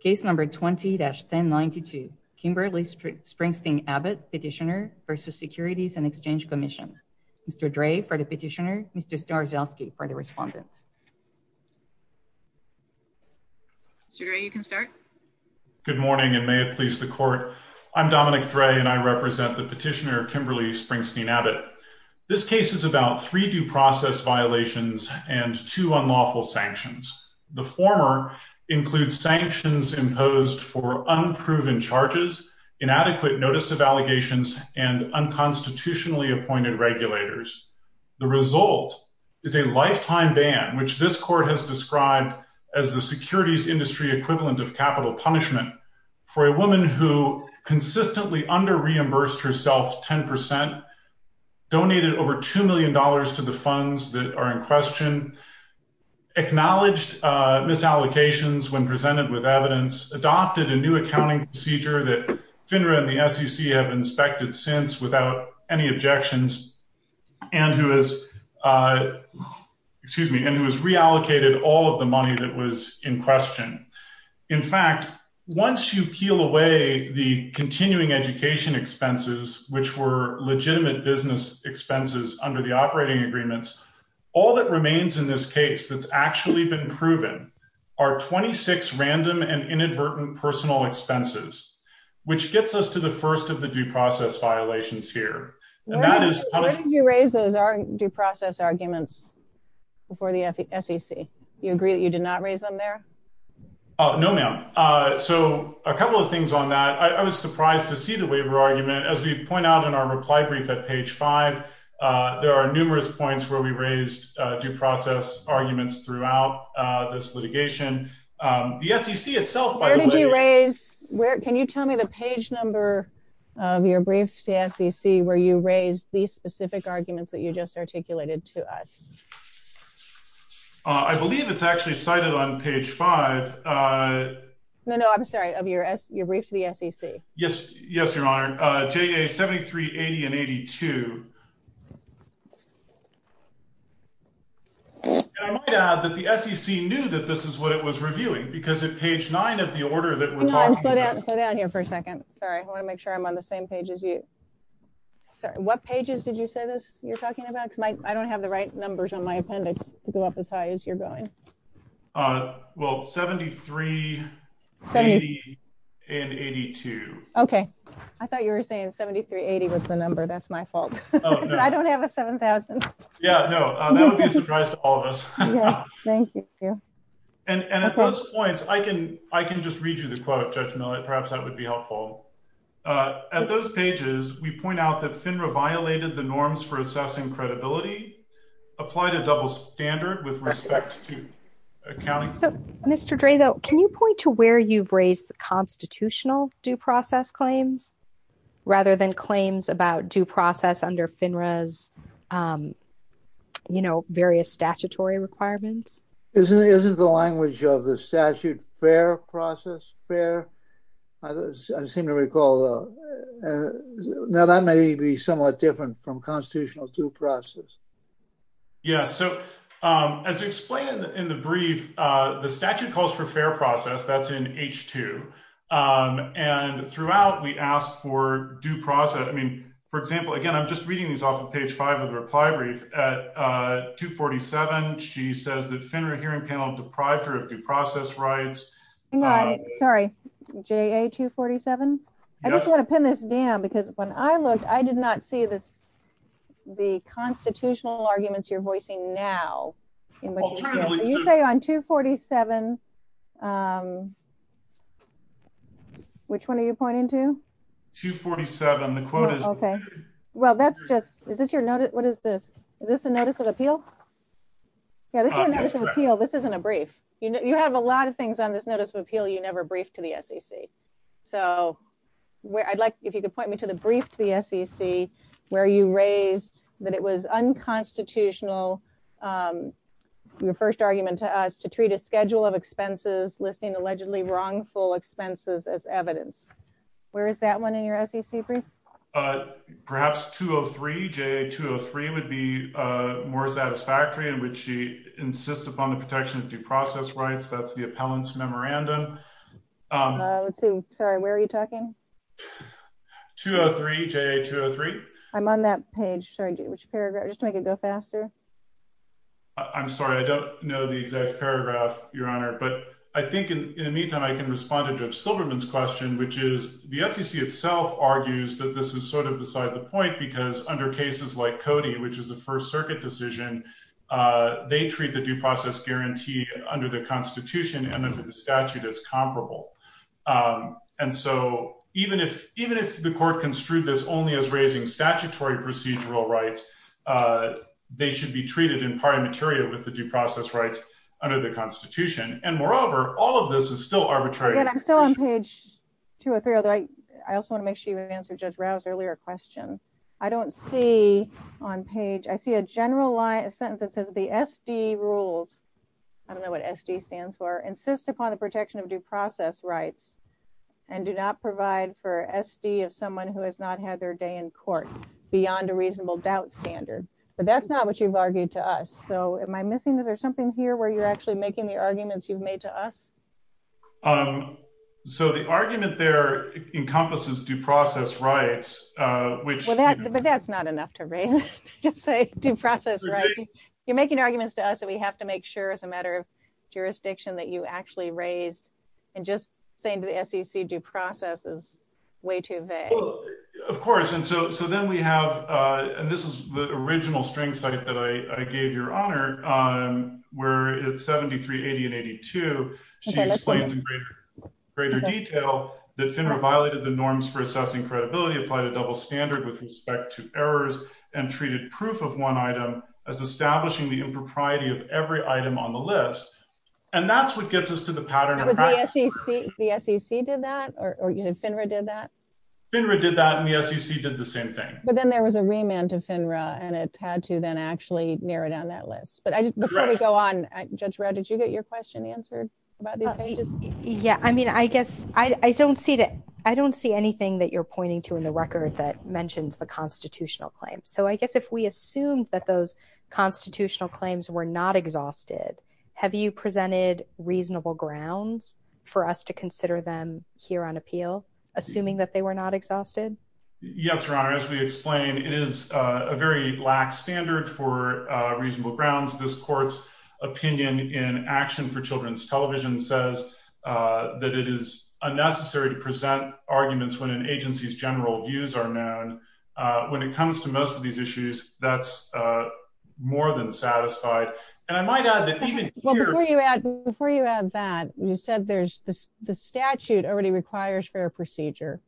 Case number 20-1092, Kimberly Springsteen-Abbott petitioner versus Securities and Exchange Commission. Mr. Dre for the petitioner, Mr. Starzylski for the respondent. Mr. Dre, you can start. Good morning and may it please the court. I'm Dominic Dre and I represent the petitioner, Kimberly Springsteen-Abbott. This case is about three due process violations and two unlawful sanctions. The former includes sanctions imposed for unproven charges, inadequate notice of allegations, and unconstitutionally appointed regulators. The result is a lifetime ban which this court has described as the securities industry equivalent of capital punishment for a woman who consistently under-reimbursed herself 10 percent, donated over $2 million to the funds that are in question, acknowledged misallocations when presented with evidence, adopted a new accounting procedure that FINRA and the SEC have inspected since without any objections, and who has reallocated all of the money that was in question. In fact, once you peel away the continuing education expenses, which were legitimate business expenses under the operating agreements, all that remains in this case that's actually been proven are 26 random and inadvertent personal expenses, which gets us to the first of the due process violations here. Where did you raise those due process arguments before the SEC? You agree that you did not raise them there? No, ma'am. So a couple of things on that. I was going to point out in our reply brief at page five, there are numerous points where we raised due process arguments throughout this litigation. Where did you raise, can you tell me the page number of your brief to SEC where you raised these specific arguments that you just articulated to us? I believe it's actually cited on page five. No, no, I'm sorry, of your brief to the SEC. Yes, yes, your honor. JA 7380 and 82. I might add that the SEC knew that this is what it was reviewing because at page nine of the order that we're talking about. Slow down here for a second. Sorry, I want to make sure I'm on the same page as you. Sorry, what pages did you say this you're talking about? Because I don't have right numbers on my appendix to go up as high as you're going. Well, 7380 and 82. Okay, I thought you were saying 7380 was the number. That's my fault. I don't have a 7000. Yeah, no, that would be a surprise to all of us. Thank you. And at those points, I can just read you the quote, Judge Millett, perhaps that would be helpful. At those pages, we point out that FINRA violated the norms for assessing credibility, applied a double standard with respect to accounting. So, Mr. Dray, though, can you point to where you've raised the constitutional due process claims, rather than claims about due process under FINRA's, you know, various statutory requirements? Isn't the language of the statute fair process fair? I seem to recall, uh, now that may be somewhat different from constitutional due process. Yes. So, as explained in the brief, the statute calls for fair process, that's in H2. And throughout, we asked for due process. I mean, for example, again, I'm just reading this off of page five of the reply brief at 247. She says that FINRA hearing panel deprived her of due process rights. Sorry, JA 247. I just want to pin this down because when I looked, I did not see this, the constitutional arguments you're voicing now. You say on 247, which one are you pointing to? 247. The quote is okay. Well, that's just is this your notice? What is this? Is this a notice of appeal? Yeah, this is a notice of appeal. This isn't a brief. You have a lot of things on this notice of appeal you never briefed to the SEC. So, where I'd like, if you could point me to the brief to the SEC, where you raised that it was unconstitutional, your first argument to us to treat a schedule of expenses listing allegedly wrongful expenses as evidence. Where is that one in your SEC brief? Perhaps 203, JA 203 would be more satisfactory in which she insists upon the protection of due process rights. That's the appellant's memorandum. Sorry, where are you talking? 203, JA 203. I'm on that page. Sorry, which paragraph just to make it go faster. I'm sorry, I don't know the exact paragraph, Your Honor. But I think in the meantime, I can respond to Judge Silverman's question, which is the SEC itself argues that this is sort of beside the point because under cases like Cody, which is First Circuit decision, they treat the due process guarantee under the Constitution and under the statute as comparable. And so, even if the court construed this only as raising statutory procedural rights, they should be treated in part in material with the due process rights under the Constitution. And moreover, all of this is still arbitrary. I'm still on page 203. I also want to make sure you answer Judge Rouse's earlier question. I don't see on page. I see a general line, a sentence that says the SD rules. I don't know what SD stands for. Insist upon the protection of due process rights and do not provide for SD of someone who has not had their day in court beyond a reasonable doubt standard. But that's not what you've argued to us. So am I missing? Is there something here where you're actually making the arguments you've made to us? So the argument there encompasses due process rights, which. But that's not enough to just say due process, right? You're making arguments to us that we have to make sure as a matter of jurisdiction that you actually raised. And just saying to the SEC due process is way too vague. Of course. And so then we have and this is the original string site that I gave your honor where it's 7380 and 82. She explains in greater detail that FINRA violated the norms for assessing credibility, applied a double standard with respect to errors and treated proof of one item as establishing the impropriety of every item on the list. And that's what gets us to the pattern. The SEC did that or FINRA did that? FINRA did that and the SEC did the same thing. But then there was a remand to FINRA and it had to then actually narrow down that list. But before we go on, Judge Rouse, did you get your question answered about these pages? Yeah. I mean, I guess I don't see that. I don't see anything that you're pointing to in the record that mentions the constitutional claim. So I guess if we assume that those constitutional claims were not exhausted, have you presented reasonable grounds for us to consider them here on appeal, assuming that they were not exhausted? Yes, Your Honor, as we explain, it is a very lax standard for reasonable grounds. This court's opinion in action for children's television says that it is unnecessary to present arguments when an agency's general views are known. When it comes to most of these issues, that's more than satisfied. And I might add that even here- Well, before you add that, you said the statute already requires fair procedure.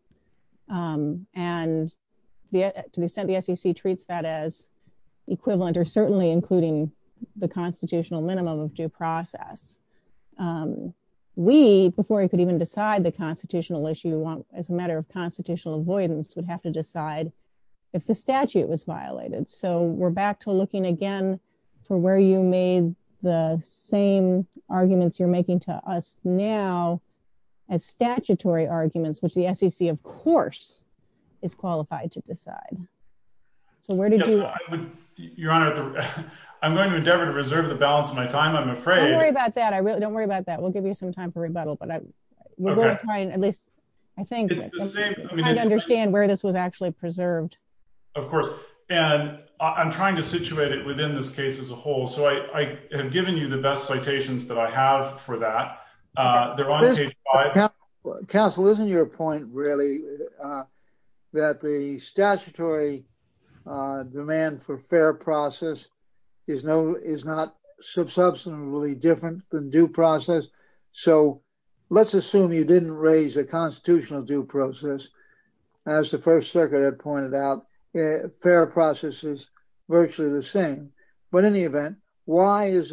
And to the extent the SEC treats that as equivalent or certainly including the constitutional minimum of due process, we, before we could even decide the constitutional issue as a matter of constitutional avoidance, would have to decide if the statute was violated. So we're back to looking again for where you made the same arguments you're making to us now as statutory arguments, which the SEC, of course, is qualified to decide. So where did you- Your Honor, I'm going to endeavor to reserve the balance of my time, I'm afraid. Don't worry about that. I really don't worry about that. We'll give you some time for rebuttal, but we're going to try and at least, I think, understand where this was actually preserved. Of course. And I'm trying to situate it within this case as a whole. So I have given you the best citations that I have for that. They're on page 5. Counsel, isn't your point really that the statutory demand for fair process is not substantively different than due process? So let's assume you didn't raise a constitutional due process. As the First Circuit had pointed out, fair process is virtually the same. But in the Yes,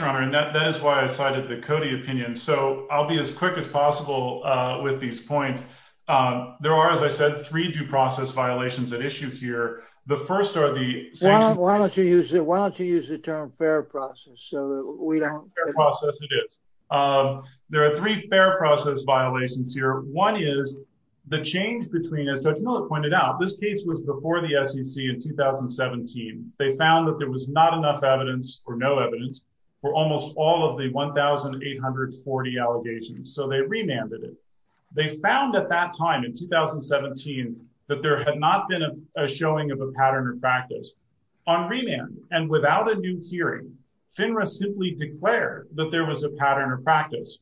Your Honor. And that is why I cited the Cody opinion. So I'll be as quick as possible with these points. There are, as I said, three due process violations at issue here. The first are the- Why don't you use the term fair process so that we don't- Fair process it is. There are three fair process violations here. One is the change between, as Judge Miller pointed out, this case was before the SEC in 2017. They found that there was not evidence or no evidence for almost all of the 1,840 allegations. So they remanded it. They found at that time in 2017 that there had not been a showing of a pattern of practice. On remand and without a new hearing, FINRA simply declared that there was a pattern of practice.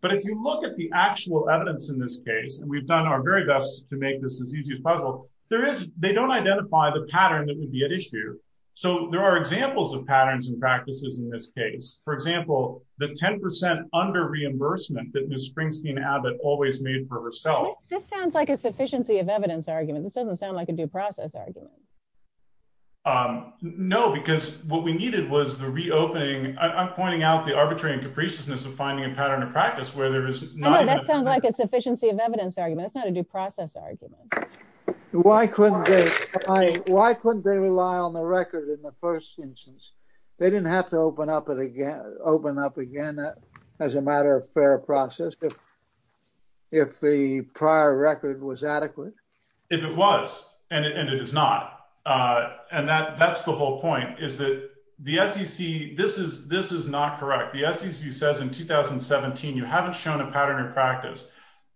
But if you look at the actual evidence in this case, and we've done our very best to make this as easy as possible, there is- They don't identify the pattern that would be at issue. So there are examples of patterns and practices in this case. For example, the 10% under reimbursement that Ms. Springsteen Abbott always made for herself. This sounds like a sufficiency of evidence argument. This doesn't sound like a due process argument. No, because what we needed was the reopening. I'm pointing out the arbitrary and capriciousness of finding a pattern of practice where there is not- That sounds like a sufficiency of evidence argument. That's not a due process argument. Why couldn't they- Why couldn't they rely on the record in the first instance? They didn't have to open up again as a matter of fair process if the prior record was adequate. If it was, and it is not. And that's the whole point, is that the SEC- This is not correct. The SEC says in 2017, you haven't shown a pattern or practice.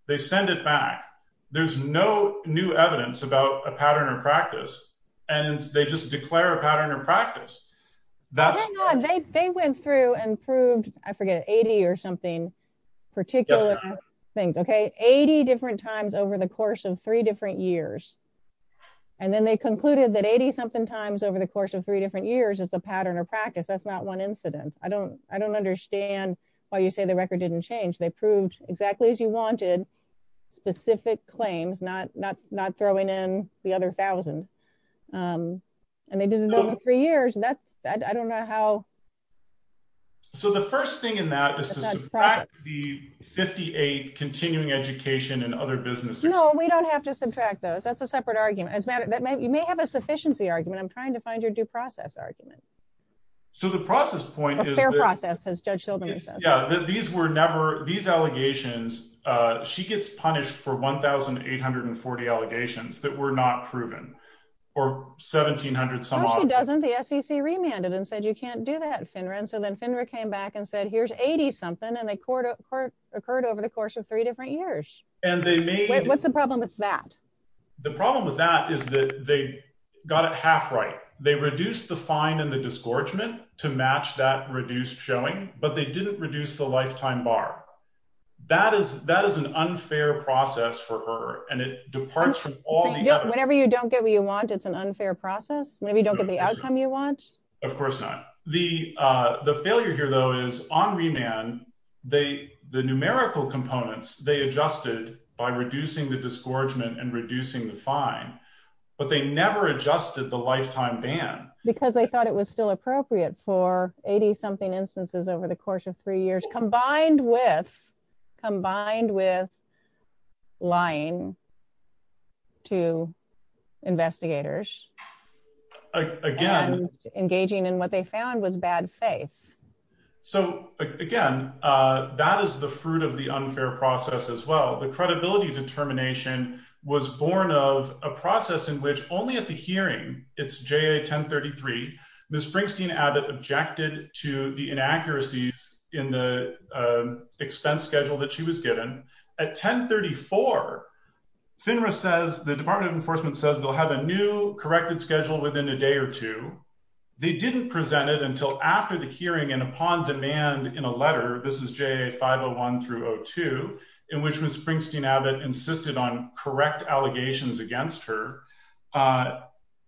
They send it back. There's no new evidence about a pattern or practice, and they just declare a pattern or practice. That's- They went through and proved, I forget, 80 or something particular things, okay? 80 different times over the course of three different years. And then they concluded that 80 something times over the course of three different years is a pattern or practice. That's not one incident. I don't understand why you say the record didn't change. They proved exactly as you wanted, specific claims, not throwing in the other thousand. And they did it over three years, and that's- I don't know how- So the first thing in that is to subtract the 58 continuing education and other businesses. No, we don't have to subtract those. That's a separate argument. You may have a sufficiency argument. I'm trying to find your due process argument. So the process point is that- Fair process, as Judge Sheldon says. Yeah, that these were never- These allegations- She gets punished for 1,840 allegations that were not proven, or 1,700 some odd. No, she doesn't. The SEC remanded and said, you can't do that, Finran. So then Finran came back and said, here's 80 something, and they occurred over the course of three different years. And they made- Wait, what's the problem with that? The problem with that is that they got it half right. They reduced the fine and the disgorgement to match that reduced showing, but they didn't reduce the lifetime bar. That is an unfair process for her, and it departs from all the other- Whenever you don't get what you want, it's an unfair process? Whenever you don't get the outcome you want? Of course not. The failure here, though, is on remand, the numerical components, they adjusted by reducing the disgorgement and reducing the fine, but they never adjusted the lifetime ban. Because they thought it was still appropriate for 80 something instances over the course of three years, combined with lying to investigators, and engaging in what they found was bad faith. So again, that is the fruit of the unfair process as well. The credibility determination was born of a process in which only at the hearing, it's JA 1033, Ms. Springsteen-Abbott objected to the inaccuracies in the expense schedule that she was given. At 1034, Finran says, the Department of Enforcement says they'll have a new corrected schedule within a day or two. They didn't present it until after the hearing and upon demand in a letter, this is JA 501 through 02, in which Ms. Springsteen-Abbott insisted on correct allegations against her.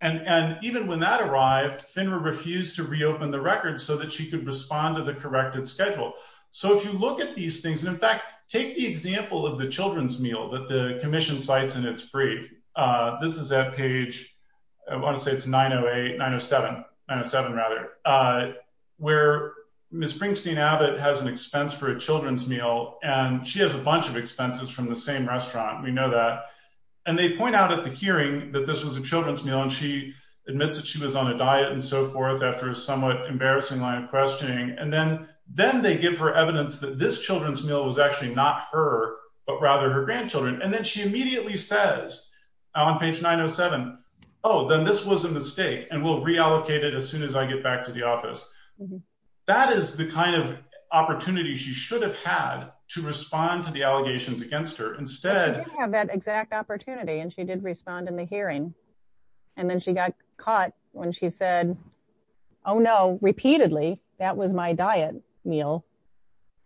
And even when that arrived, Finran refused to reopen the record so that she could respond to the corrected schedule. So if you look at these things, and in fact, take the example of the children's meal that the 907 rather, where Ms. Springsteen-Abbott has an expense for a children's meal, and she has a bunch of expenses from the same restaurant, we know that. And they point out at the hearing that this was a children's meal, and she admits that she was on a diet and so forth after a somewhat embarrassing line of questioning. And then they give her evidence that this children's meal was actually not her, but rather her grandchildren. And then she immediately says on page 907, oh, then this was a mistake, and we'll reallocate it as soon as I get back to the office. That is the kind of opportunity she should have had to respond to the allegations against her instead. She didn't have that exact opportunity, and she did respond in the hearing. And then she got caught when she said, oh, no, repeatedly, that was my diet meal.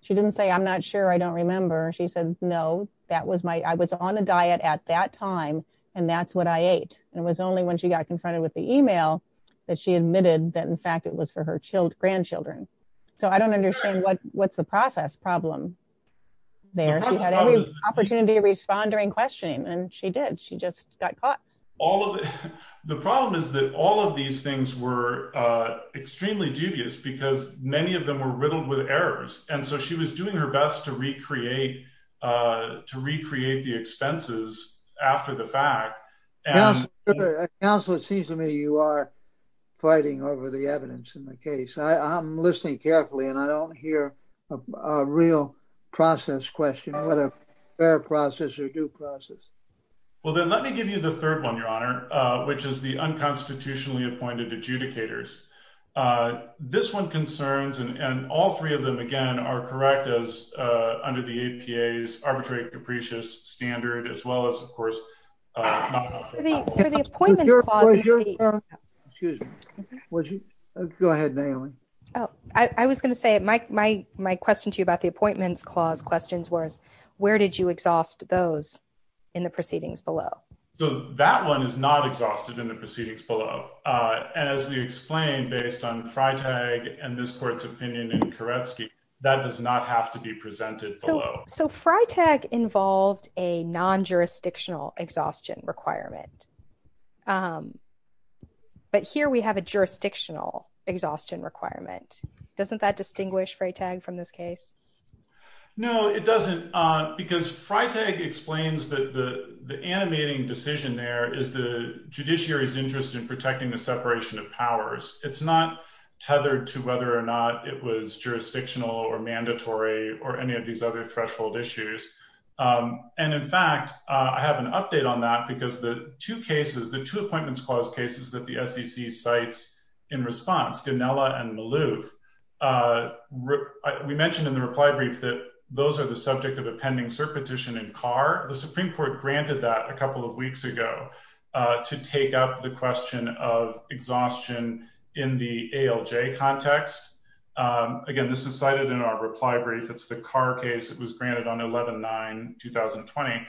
She didn't say I'm not sure, I don't remember. She said, no, that was my I was on a diet at that time. And that's only when she got confronted with the email that she admitted that, in fact, it was for her grandchildren. So I don't understand what's the process problem there. She had every opportunity to respond during questioning, and she did, she just got caught. The problem is that all of these things were extremely dubious, because many of them were riddled with errors. And so she was Counselor, it seems to me you are fighting over the evidence in the case. I'm listening carefully, and I don't hear a real process question, whether fair process or due process. Well, then let me give you the third one, Your Honor, which is the unconstitutionally appointed adjudicators. This one concerns and all three of them, again, are correct as under the APA's your excuse me. Go ahead, Naomi. Oh, I was gonna say my my question to you about the appointments clause questions was, where did you exhaust those in the proceedings below? So that one is not exhausted in the proceedings below. And as we explained, based on Freitag and this court's opinion in Koretsky, that does not have to be presented. So so Freitag involved a non-jurisdictional exhaustion requirement. But here we have a jurisdictional exhaustion requirement. Doesn't that distinguish Freitag from this case? No, it doesn't. Because Freitag explains that the animating decision there is the judiciary's interest in protecting the separation of powers. It's not tethered to whether or not it was jurisdictional or mandatory or any of these other threshold issues. And in fact, I have an update on that because the two cases, the two appointments clause cases that the SEC cites in response, Ginella and Malouf, we mentioned in the reply brief that those are the subject of a pending cert petition in Carr. The Supreme Court granted that a couple of weeks ago to take up the question of exhaustion in the ALJ context. Again, this is cited in our reply brief. It's the Carr case. It was granted on 11-9-2020,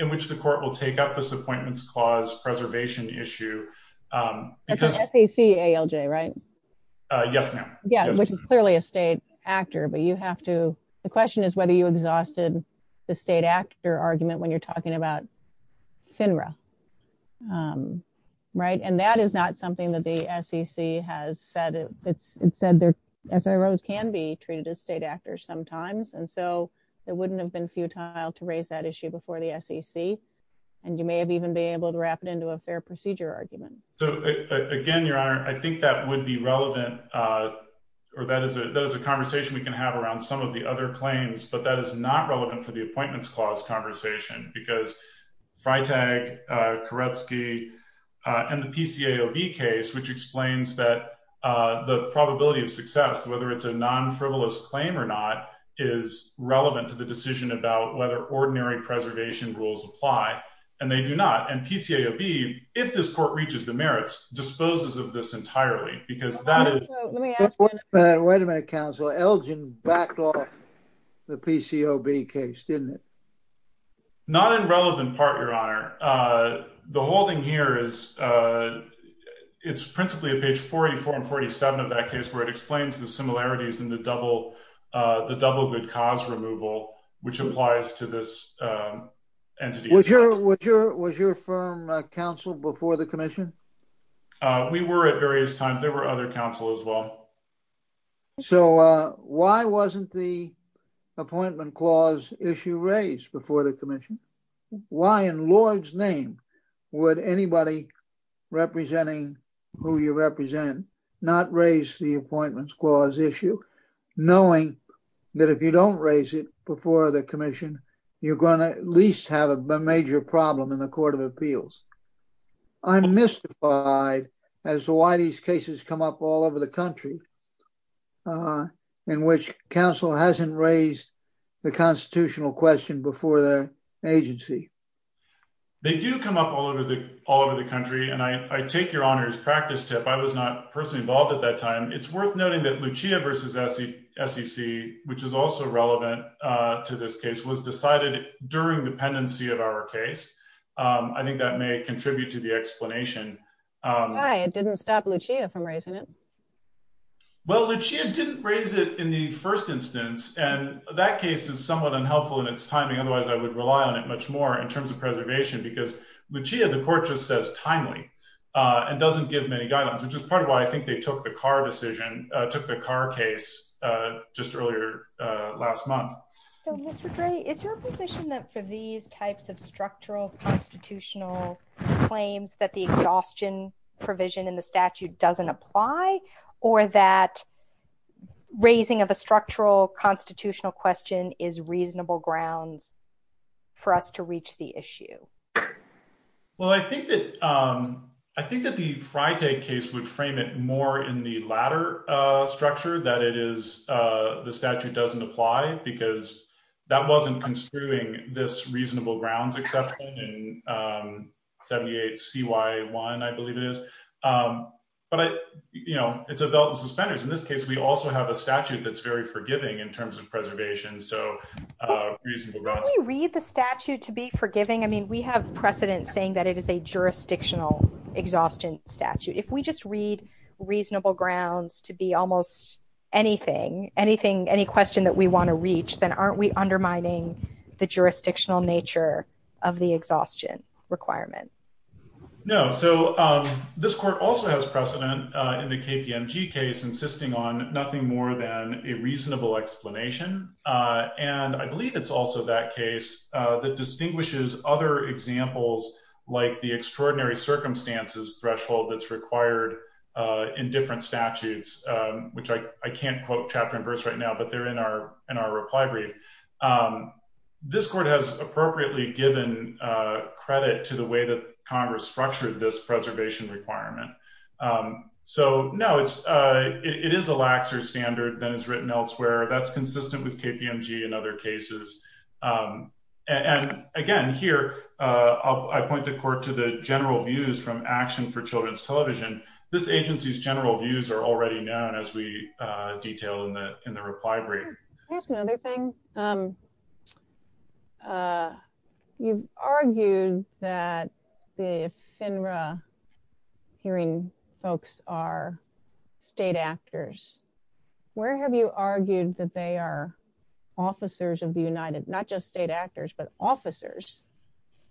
in which the court will take up this appointments clause preservation issue. That's the SEC ALJ, right? Yes, ma'am. Yeah, which is clearly a state actor. But you have to the question is whether you exhausted the state actor argument when you're not. Right? And that is not something that the SEC has said. It's said their SROs can be treated as state actors sometimes. And so it wouldn't have been futile to raise that issue before the SEC. And you may have even been able to wrap it into a fair procedure argument. So again, Your Honor, I think that would be relevant. Or that is a conversation we can have around some of the other claims. But that is not relevant for the appointments clause conversation because Freitag, Koretsky, and the PCAOB case, which explains that the probability of success, whether it's a non-frivolous claim or not, is relevant to the decision about whether ordinary preservation rules apply. And they do not. And PCAOB, if this court reaches the merits, disposes of this entirely because that is... Wait a minute, counsel. Elgin backed off the PCAOB case, didn't it? Not in relevant part, Your Honor. The holding here is, it's principally at page 44 and 47 of that case where it explains the similarities in the double good cause removal, which applies to this entity. Was your firm counsel before the commission? We were at various times. There were other counsel as well. So why wasn't the appointment clause issue raised before the commission? Why in Lord's name would anybody representing who you represent not raise the appointments clause issue, knowing that if you don't raise it before the commission, you're going to at least have a major problem in the court of appeals? I'm mystified as to why these cases come up all over the country in which counsel hasn't raised the constitutional question before the agency. They do come up all over the country. And I take your honor's practice tip. I was not personally involved at that time. It's worth noting that Lucia versus SEC, which is also a case, I think that may contribute to the explanation. It didn't stop Lucia from raising it. Well, Lucia didn't raise it in the first instance, and that case is somewhat unhelpful in its timing. Otherwise I would rely on it much more in terms of preservation because Lucia, the court just says timely and doesn't give many guidelines, which is part of why I think they took the car decision, took the car case just earlier last month. So Mr. Gray, is your position that for these types of structural constitutional claims that the exhaustion provision in the statute doesn't apply or that raising of a structural constitutional question is reasonable grounds for us to reach the issue? Well, I think that the Friday case would frame it more in the latter structure, that it is the statute doesn't apply because that wasn't construing this reasonable grounds exception in 78CY1, I believe it is. But it's a belt and suspenders. In this case, we also have a statute that's very forgiving in terms of preservation, so reasonable grounds. Can we read the statute to be forgiving? I mean, we have precedent saying that it is a jurisdictional exhaustion statute. If we just read reasonable grounds to be almost anything, any question that we want to reach, then aren't we undermining the jurisdictional nature of the exhaustion requirement? No. So this court also has precedent in the KPMG case insisting on nothing more than a reasonable explanation. And I believe it's also that case that distinguishes other examples like the extraordinary circumstances threshold that's required in different statutes, which I can't quote chapter and verse right now, but they're in our reply brief. This court has appropriately given credit to the way that Congress structured this preservation requirement. So no, it is a laxer standard than is written elsewhere. That's consistent with KPMG and other I point the court to the general views from Action for Children's Television. This agency's general views are already known as we detail in the reply brief. Can I ask another thing? You've argued that the FINRA hearing folks are state actors. Where have you argued that they are officers of the United, not just state actors, but officers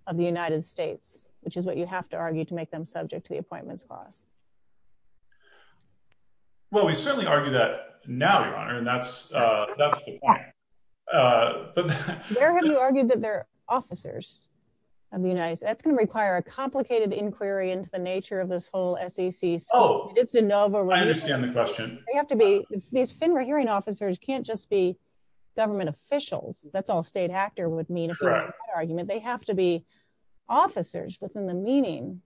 of the United States, which is what you have to argue to make them subject to the appointments clause? Well, we certainly argue that now, Your Honor, and that's the point. Where have you argued that they're officers of the United States? That's going to require a complicated inquiry into the nature of this whole SEC. Oh, I understand the question. These FINRA hearing officers can't just be government officials. That's all state actor would mean argument. They have to be officers within the meaning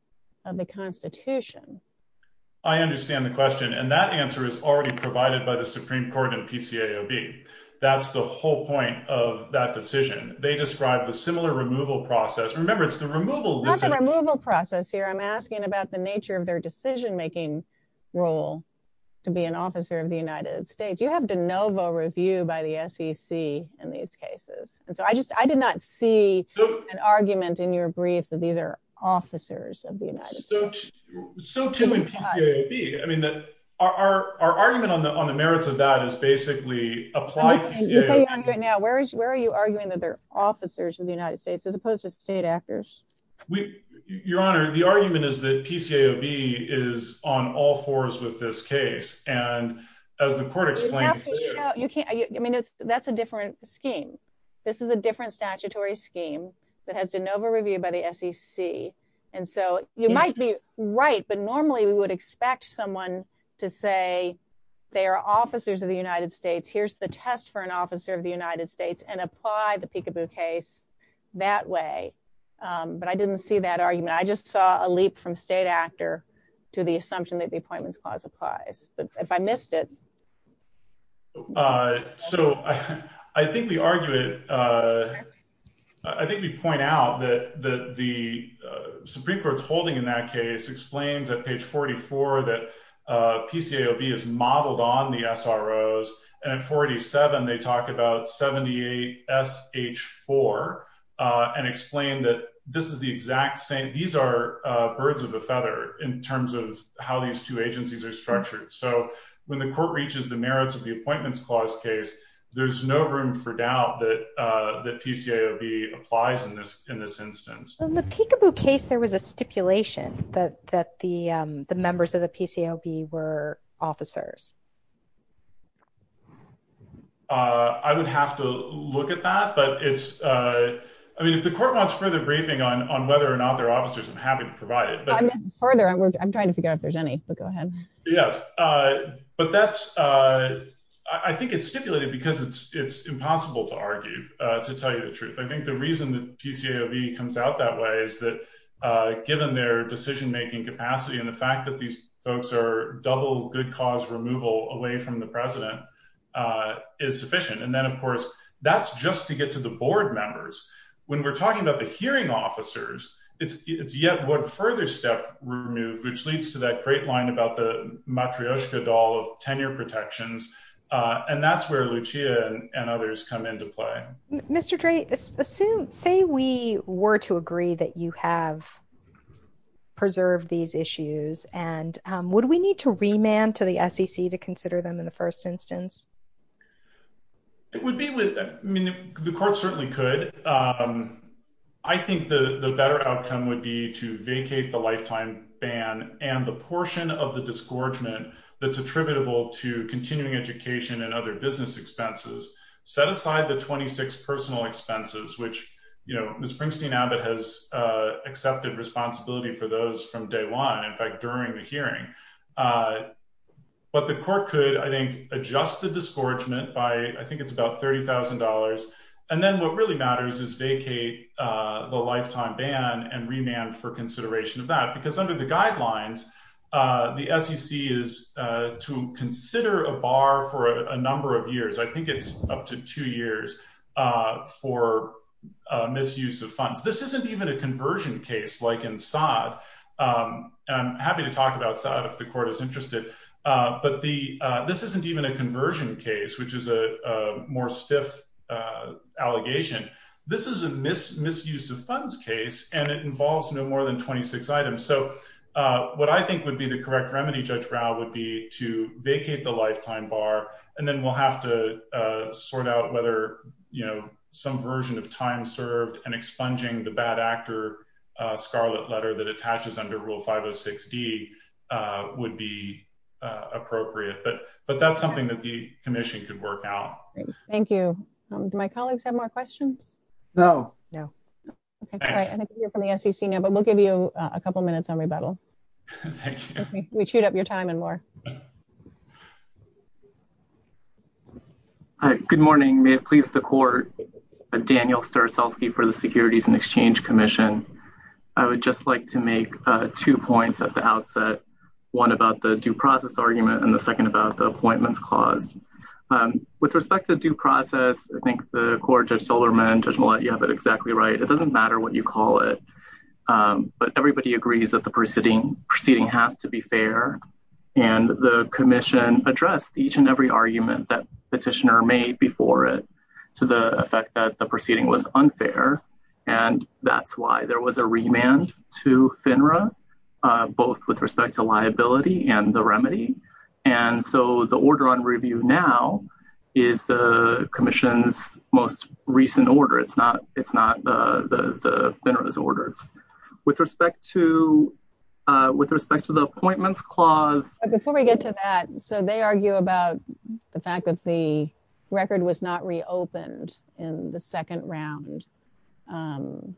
of the Constitution. I understand the question. And that answer is already provided by the Supreme Court and PCAOB. That's the whole point of that decision. They described the similar removal process. Remember, it's the removal removal process here. I'm asking about the nature of their decision making role to be an officer of the United States. You have de novo review by the SEC in these cases. And so I just I did not see an argument in your brief that these are officers of the United States. So too in PCAOB. I mean, that our argument on the on the merits of that is basically applied. Now, where is where are you arguing that they're officers of the United States as opposed to state actors? Your Honor, the argument is that PCAOB is on all fours with this case. And as the court explains, you can't I mean, that's a different scheme. This is a different statutory scheme that has de novo review by the SEC. And so you might be right. But normally we would expect someone to say they are officers of the United States. Here's the test for an officer of the United States and apply the PCAOB case that way. But I didn't see that argument. I assume that the Appointments Clause applies. But if I missed it. So I think we argue it. I think we point out that the Supreme Court's holding in that case explains at page 44 that PCAOB is modeled on the SROs. And at 47, they talk about 78 SH4 and explain that this is the exact same. These are birds of a feather in terms of how these two agencies are structured. So when the court reaches the merits of the Appointments Clause case, there's no room for doubt that the PCAOB applies in this in this instance. In the peekaboo case, there was a stipulation that that the the members of the PCAOB were officers. I would have to look at that. But it's I mean, if the court wants further briefing on whether an officer is an officer, I'm happy to provide it further. I'm trying to figure out if there's any. But go ahead. Yes. But that's I think it's stipulated because it's it's impossible to argue to tell you the truth. I think the reason that PCAOB comes out that way is that given their decision making capacity and the fact that these folks are double good cause removal away from the president is sufficient. And then, of course, that's just to get to the board members. When talking about the hearing officers, it's yet one further step removed, which leads to that great line about the matryoshka doll of tenure protections. And that's where Lucia and others come into play. Mr. Drayton, say we were to agree that you have preserved these issues, and would we need to remand to the SEC to consider them in the first instance? It would be with the court certainly could. I think the better outcome would be to vacate the lifetime ban and the portion of the disgorgement that's attributable to continuing education and other business expenses. Set aside the twenty six personal expenses, which, you know, Ms. Pringsteen Abbott has accepted responsibility for those from day one, in fact, during the hearing. But the court could, I think, adjust the disgorgement by I think it's about thirty thousand dollars. And then what really matters is vacate the lifetime ban and remand for consideration of that, because under the guidelines, the SEC is to consider a bar for a number of years. I think it's up to two years for misuse of funds. This isn't even a conversion case like in I'm happy to talk about that if the court is interested, but this isn't even a conversion case, which is a more stiff allegation. This is a misuse of funds case and it involves no more than twenty six items. So what I think would be the correct remedy, Judge Rao, would be to vacate the lifetime bar and then we'll have to sort out whether some version of time served and expunging the bad actor scarlet letter that attaches under Rule 506 D would be appropriate. But but that's something that the commission could work out. Thank you. My colleagues have more questions. No, no. OK, I think you're from the SEC now, but we'll give you a couple minutes on rebuttal. Thank you. We chewed up your time and more. Good morning. May it please the court. Daniel Sturzowski for the Securities and Exchange Commission. I would just like to make two points at the outset, one about the due process argument and the second about the appointments clause. With respect to due process, I think the court, Judge Solomon, Judge Mollet, you have it exactly right. It doesn't matter what you call it, but everybody agrees that the proceeding has to be fair. And the commission addressed each and every argument that petitioner made before it to the effect that the proceeding was unfair. And that's why there was a remand to FINRA, both with respect to liability and the remedy. And so the order on review now is the commission's most recent order. It's not the FINRA's orders. With respect to with respect to the appointments clause. Before we get to that, so they argue about the fact that the record was not reopened in the second round. Can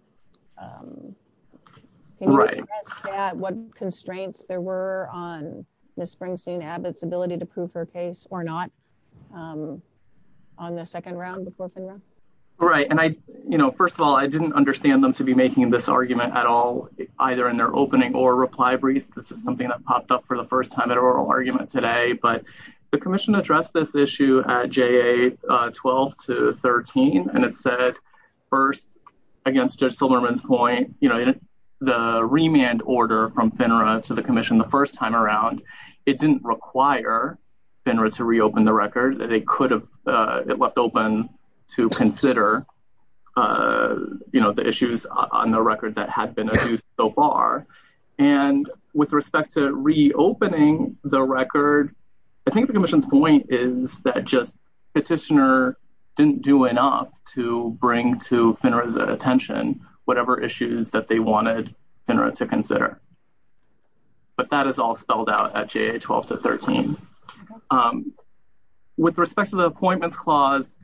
you address that, what constraints there were on Ms. Springsteen Abbott's ability to prove her case or not on the second round before FINRA? Right. And I you know, first of all, I didn't understand them to be making this argument at all, either in their opening or reply briefs. This is something that popped up for the first time at oral argument today. But the commission addressed this issue at JA 12 to 13. And it said, first, against Judge Solomon's point, you know, the remand order from FINRA to the commission the first time around, it didn't require FINRA to reopen the record that they could have left open to consider, you know, the issues on the record that had been so far. And with respect to reopening the record, I think the commission's point is that just petitioner didn't do enough to bring to FINRA's attention, whatever issues that they wanted FINRA to consider. But that is all spelled out at JA 12 to 13. With respect to the appointments clause,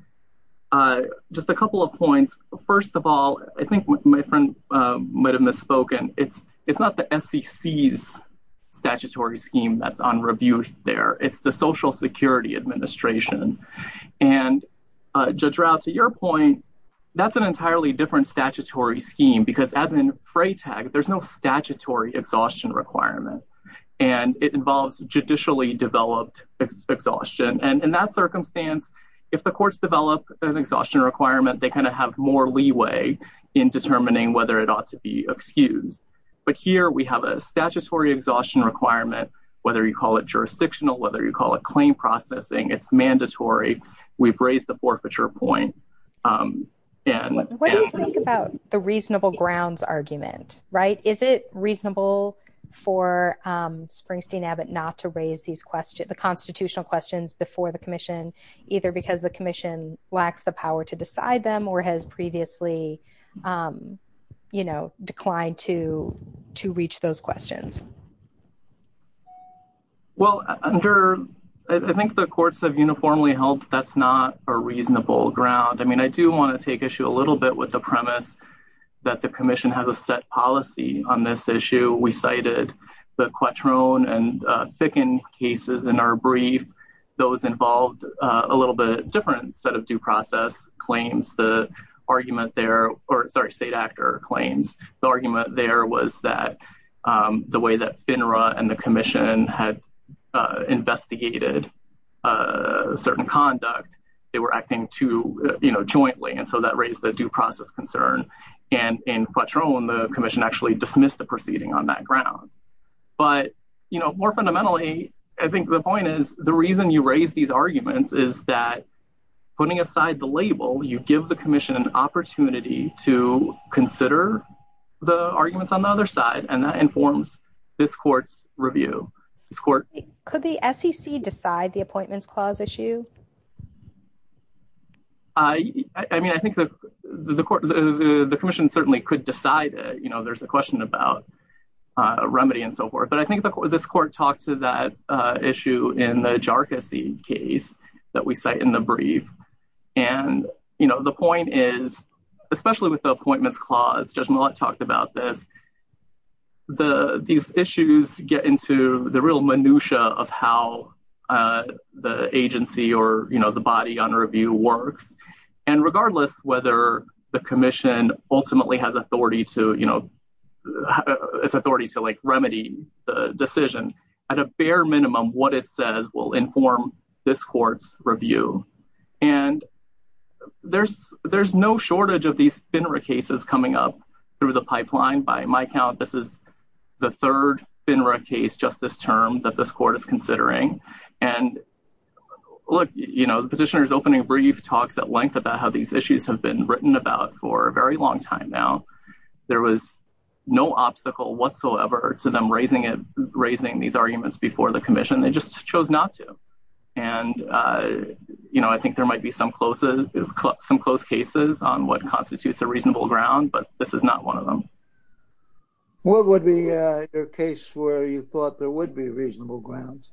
just a couple of points. First of all, I think my friend might have misspoken. It's not the SEC's statutory scheme that's on review there. It's the Social Security Administration. And Judge Rao, to your point, that's an entirely different statutory scheme, because as in FRATAG, there's no statutory exhaustion requirement. And it involves judicially developed exhaustion. And in that circumstance, if the courts develop an exhaustion requirement, they kind of have more leeway in determining whether it ought to be excused. But here we have a statutory exhaustion requirement, whether you call it jurisdictional, whether you call it claim processing, it's mandatory. We've raised the forfeiture point. And what do you think about the reasonable grounds argument, right? Is it reasonable for Springsteen Abbott not to raise these questions, the constitutional questions before the commission, either because the commission lacks the power to decide them or has previously, you know, declined to reach those questions? Well, under, I think the courts have uniformly held that's not a reasonable ground. I mean, I do want to take issue a little bit with the premise that the commission has a set policy on this issue. We cited the Quattrone and Thicken cases in our brief. Those involved a little bit different set of due process claims. The argument there, or sorry, state actor claims. The argument there was that the way that FINRA and the commission had investigated a certain conduct, they were acting to, you know, jointly. And so that raised a due process concern. And in Quattrone, the commission actually dismissed the proceeding on that ground. But, you know, more fundamentally, I think the point is the reason you raise these arguments is that putting aside the label, you give the commission an opportunity to consider the arguments on the other side. And that informs this court's review. Could the SEC decide the appointments clause issue? I mean, I think the commission certainly could decide it. You know, there's a question about remedy and so forth. But I think this court talked to that issue in the Jarkissi case that we cite in the brief. And, you know, the point is, especially with the appointments clause, Judge Mallette talked about this. These issues get into the real minutiae of how the agency or, you know, the body on review works. And regardless whether the commission ultimately has authority to, you know, it's authority to like remedy the decision, at a bare minimum, what it says will inform this court's review. And there's no shortage of these FINRA cases coming up through the pipeline. By my count, this is the third FINRA case, just this term, that this court is considering. And look, you know, the petitioner's opening brief talks at length about how these issues have been written about for a very long time now. There was no obstacle whatsoever to them raising these arguments before the commission. They just chose not to. And, you know, I think there might be some close cases on what constitutes a reasonable ground, but this is not one of them. What would be a case where you thought there was a reasonable ground?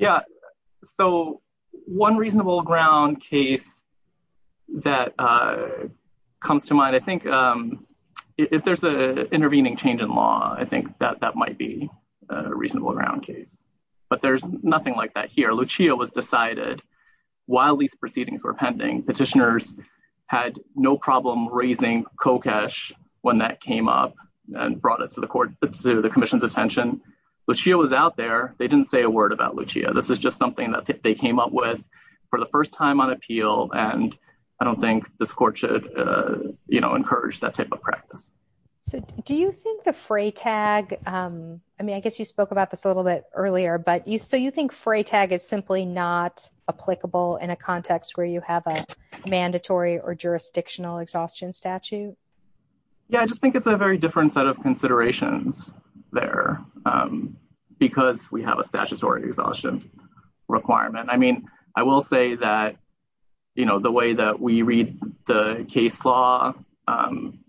I think if there's an intervening change in law, I think that that might be a reasonable ground case. But there's nothing like that here. Lucia was decided while these proceedings were pending. Petitioners had no problem raising COCESH when that came up and brought it to the commission's attention. Lucia was out there. They didn't say a word about Lucia. This is just something that they came up with for the first time on appeal. And I don't think this court should, you know, encourage that type of practice. So do you think the fray tag, I mean, I guess you spoke about this a little bit earlier, but so you think fray tag is simply not applicable in a context where you have a mandatory or jurisdictional exhaustion statute? Yeah, I just think it's a very different set of considerations there because we have a statutory exhaustion requirement. I mean, I will say that, you know, the way that we read the case law,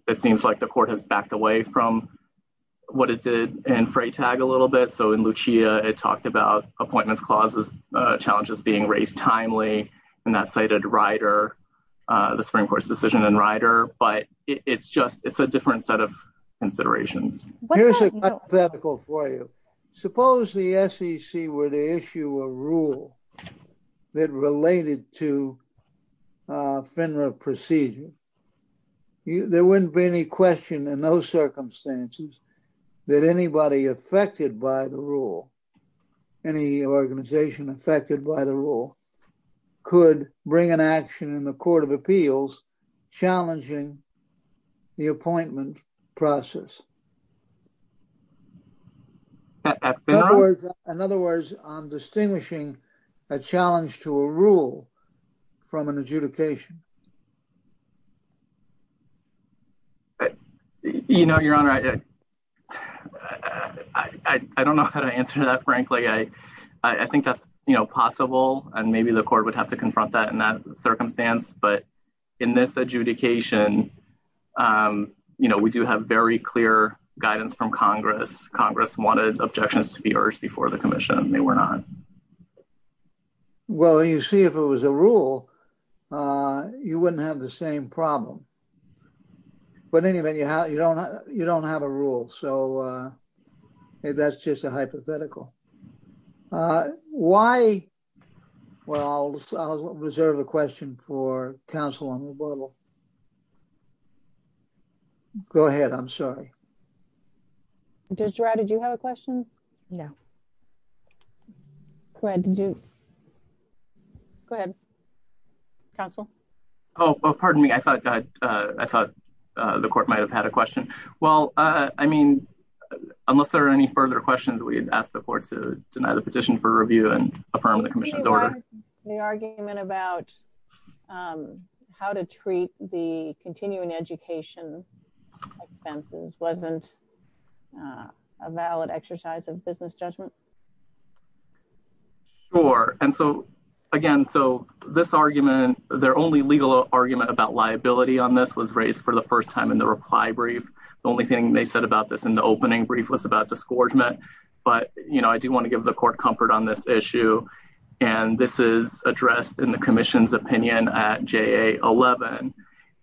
it seems like the court has backed away from what it did in fray tag a little bit. So in Lucia, it talked about appointments clauses, challenges being raised timely, and that cited Rider, the Supreme Court's decision in Rider. But it's just, it's a different set of considerations. Here's a hypothetical for you. Suppose the SEC were to issue a rule that related to FINRA procedure. There wouldn't be any question in those circumstances that anybody affected by the rule, any organization affected by the rule, could bring an action in the Court of Appeals challenging the appointment process. In other words, I'm distinguishing a challenge to a rule from an adjudication. You know, Your Honor, I don't know how to answer that, frankly. I think that's, you know, possible, and maybe the court would have to confront that in that Congress wanted objections to be urged before the commission. They were not. Well, you see, if it was a rule, you wouldn't have the same problem. But anyway, you don't have a rule. So that's just a hypothetical. Why? Well, I'll reserve a question for counsel on rebuttal. Go ahead. I'm sorry. Judge Girard, did you have a question? No. Go ahead. Counsel? Oh, pardon me. I thought the court might have had a question. Well, I mean, unless there are any further questions, we'd ask the court to deny the petition for review and affirm the commission's order. The argument about how to treat the continuing education expenses wasn't a valid exercise of business judgment? Sure. And so, again, so this argument, their only legal argument about liability on this was raised for the first time in the reply brief. The only thing they said about this in the opening brief was about disgorgement. But, you know, I do want to give the court comfort on this issue. And this is addressed in the commission's opinion at JA11.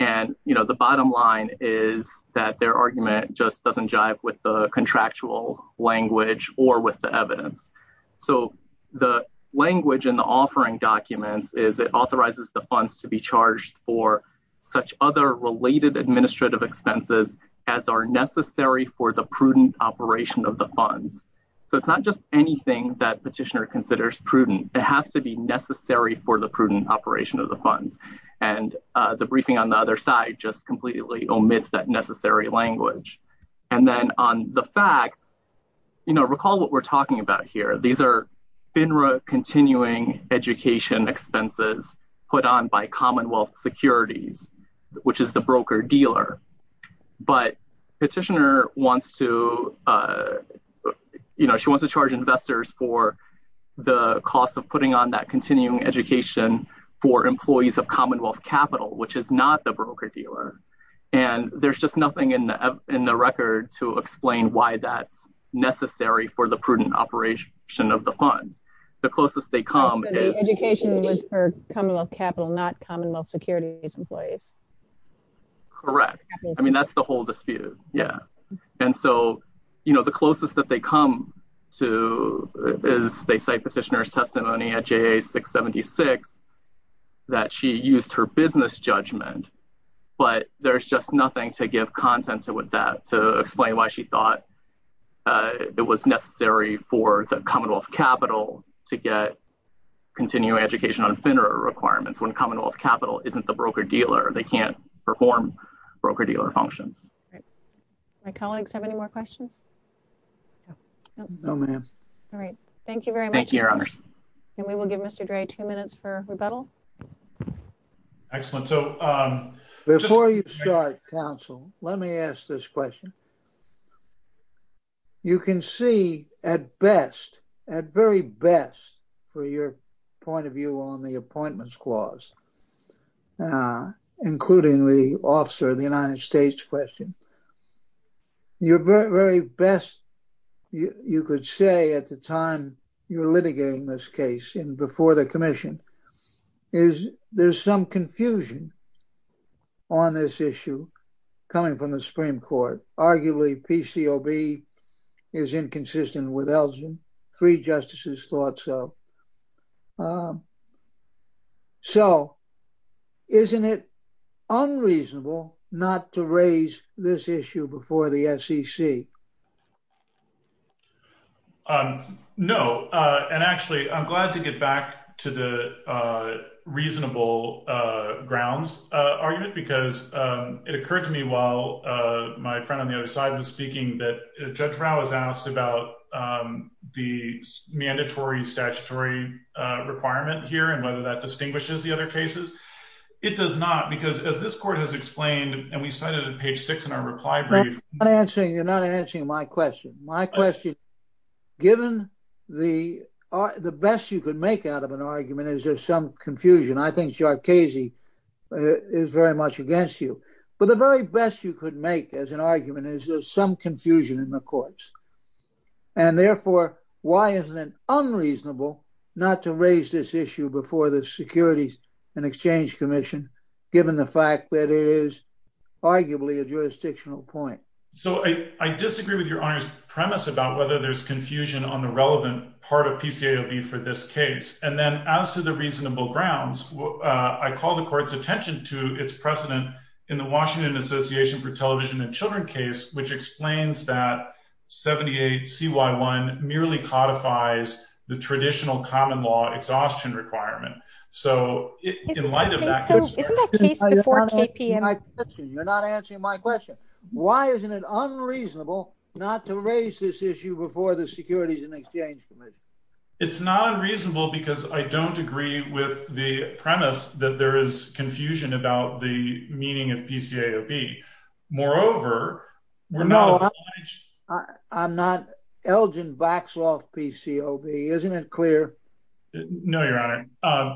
And, you know, the bottom line is that their argument just doesn't jive with the contractual language or with the evidence. So the language in the offering documents is it authorizes the funds to be charged for such other related administrative expenses as are necessary for the prudent operation of the funds. So it's not just anything that petitioner considers prudent. It has to be necessary for the prudent operation of the funds. And the briefing on the other side just completely omits that necessary language. And then on the facts, you know, recall what we're talking about here. These are FINRA continuing education expenses put on by Commonwealth Securities, which is the broker-dealer. But petitioner wants to, you know, she wants to charge investors for the cost of putting on that continuing education for employees of Commonwealth Capital, which is not the broker-dealer. And there's just nothing in the record to explain why that's necessary for the prudent operation of the funds. The closest they come is... Correct. I mean, that's the whole dispute. Yeah. And so, you know, the closest that they come to is they cite petitioner's testimony at JA 676 that she used her business judgment. But there's just nothing to give content to with that to explain why she thought it was necessary for the Commonwealth Capital to get continuing education on FINRA requirements when Commonwealth Capital isn't the broker-dealer. They can't perform broker-dealer functions. My colleagues have any more questions? No, ma'am. All right. Thank you very much. Thank you, your honors. And we will give Mr. Dre two minutes for rebuttal. Excellent. So before you start, counsel, let me ask this question. You can see at best, at very best, for your point of view on the appointments clause, including the officer of the United States question, your very best, you could say at the time you're litigating this case in before the commission, is there's some confusion on this issue coming from the Supreme Court. Arguably PCOB is inconsistent with Elgin. Three justices thought so. So isn't it unreasonable not to raise this issue before the SEC? No. And actually, I'm glad to get back to the reasonable grounds argument because it occurred to me while my friend on the other side was speaking that Judge Rao has asked about the mandatory statutory requirement here and whether that distinguishes the other cases. It does not because as this court has explained, and we cited at page six in our reply brief. You're not answering my question. My question, given the best you could make out of an argument, is there some confusion? I think Jarkazi is very much against you. But the very best you could make as an argument is there's some confusion in the courts. And therefore, why isn't it unreasonable not to raise this issue before the Securities and Exchange Commission, given the fact that it is arguably a jurisdictional point? So I disagree with your honor's premise about whether there's confusion on the relevant part of PCOB for this case. And then as to the reasonable grounds, I call the court's attention to its precedent in the Washington Association for Television and Children case, which explains that 78CY1 merely codifies the traditional common law exhaustion requirement. So in light of that, you're not answering my question. Why isn't it unreasonable not to raise this issue before the Securities and Exchange Commission? It's not unreasonable because I don't agree with the premise that there is confusion about the meaning of PCAOB. Moreover, I'm not Elgin Vaxloff PCOB, isn't it clear? No, your honor.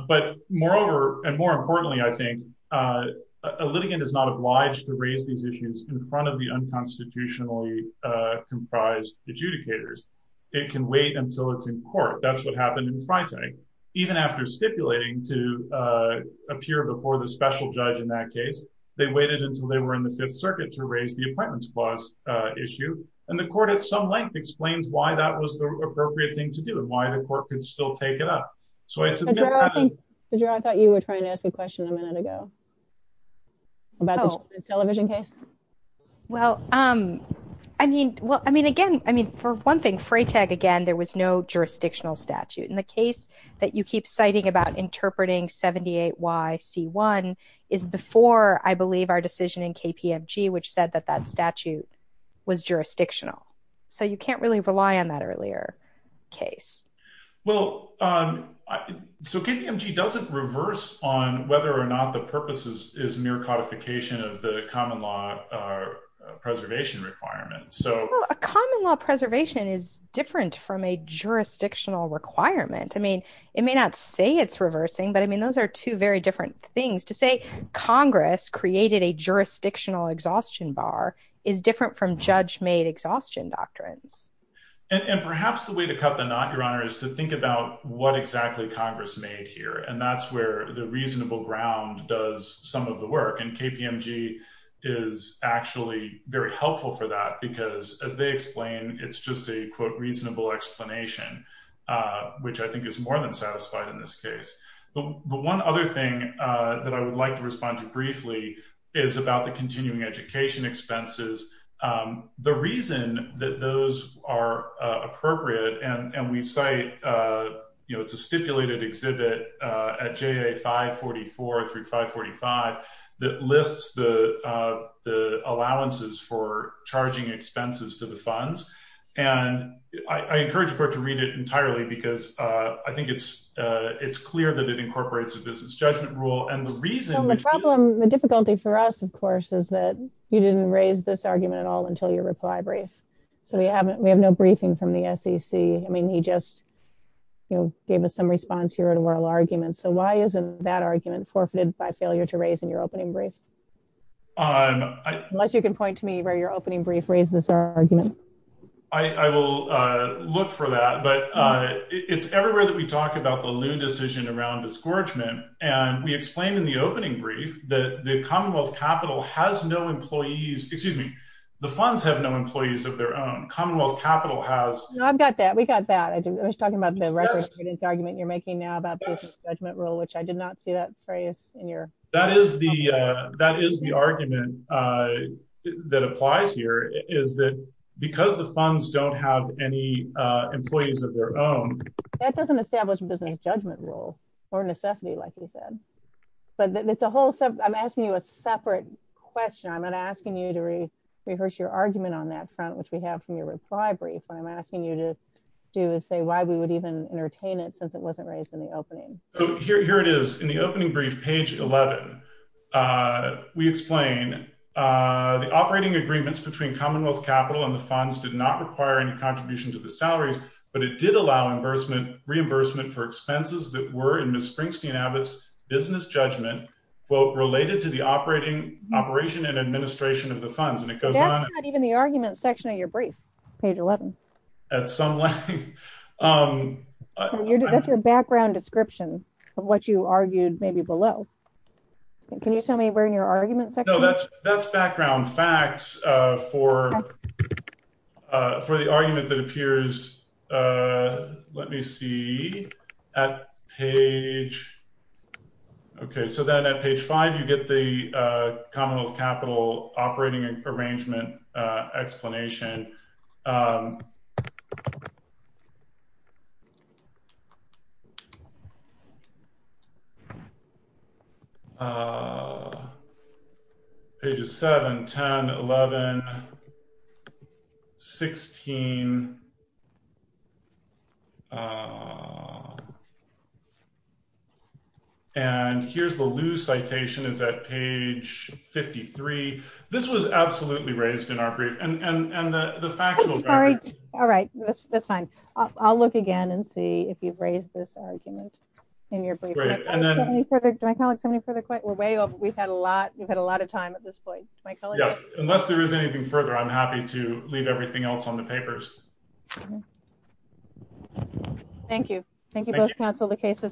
But moreover, and more importantly, I think a litigant is not obliged to raise these issues in front of the unconstitutionally comprised adjudicators. It can wait until it's in court. That's what happened in Friday. Even after stipulating to appear before the special judge in that case, they waited until they were in the Fifth Circuit to raise the appointments clause issue. And the court at some length explains why that was the choice. I thought you were trying to ask a question a minute ago about the television case. Well, I mean, well, I mean, again, I mean, for one thing, Freytag, again, there was no jurisdictional statute in the case that you keep citing about interpreting 78YC1 is before I believe our decision in KPMG, which said that that statute was jurisdictional. So you can't really rely on that earlier case. Well, so KPMG doesn't reverse on whether or not the purposes is mere codification of the common law preservation requirements. So a common law preservation is different from a jurisdictional requirement. I mean, it may not say it's reversing, but I mean, those are two very different things to say. Congress created a jurisdictional exhaustion bar is different from judge made exhaustion doctrines. And perhaps the way to cut the knot, Your Honor, is to think about what exactly Congress made here. And that's where the reasonable ground does some of the work. And KPMG is actually very helpful for that, because as they explain, it's just a quote, reasonable explanation, which I think is more than satisfied in this case. The one other thing that I would to respond to briefly is about the continuing education expenses. The reason that those are appropriate and we cite, you know, it's a stipulated exhibit at JA 544 through 545 that lists the allowances for charging expenses to the funds. And I encourage the court to read it entirely because I think it's clear that it incorporates a business judgment rule. And the problem, the difficulty for us, of course, is that you didn't raise this argument at all until your reply brief. So we haven't, we have no briefing from the SEC. I mean, he just, you know, gave us some response here to oral arguments. So why isn't that argument forfeited by failure to raise in your opening brief? Unless you can point to me where your opening brief raised this argument. I will look for that. But it's everywhere that we talk about the loon decision around discouragement. And we explained in the opening brief that the Commonwealth capital has no employees, excuse me, the funds have no employees of their own Commonwealth capital has. I've got that. We got that. I was talking about the record argument you're making now about this judgment rule, which I did not see that phrase in your. That is the, that is the argument that applies here is that because the funds don't have any employees of their own. That doesn't establish a business judgment rule or necessity, like you said, but that the whole set, I'm asking you a separate question. I'm not asking you to rehearse your argument on that front, which we have from your reply brief. I'm asking you to do is say why we would even entertain it since it wasn't raised in the opening. Here it is in the opening brief page 11. We explain the operating agreements between Commonwealth capital and the funds did not require any contribution to the salaries, but it did allow reimbursement reimbursement for expenses that were in Miss Springsteen Abbott's business judgment. Well, related to the operating operation and administration of the funds. And it goes on, even the argument section of your brief page 11. At some length, your background description of what you argued maybe below. Can you tell me where in your argument? No, that's that's background facts for for the argument that appears. Let me see at page. Okay, so then at page five, you get the Commonwealth capital operating arrangement explanation. Page is 7, 10, 11, 16. And here's the loose citation is that page 53. This was absolutely raised in our brief and the right. All right, that's fine. I'll look again and see if you've raised this argument in your brief further. We're way over. We've had a lot. We've had a lot of time at this point. Unless there is anything further, I'm happy to leave everything else on the papers. Thank you. Thank you both counsel. The case is submitted.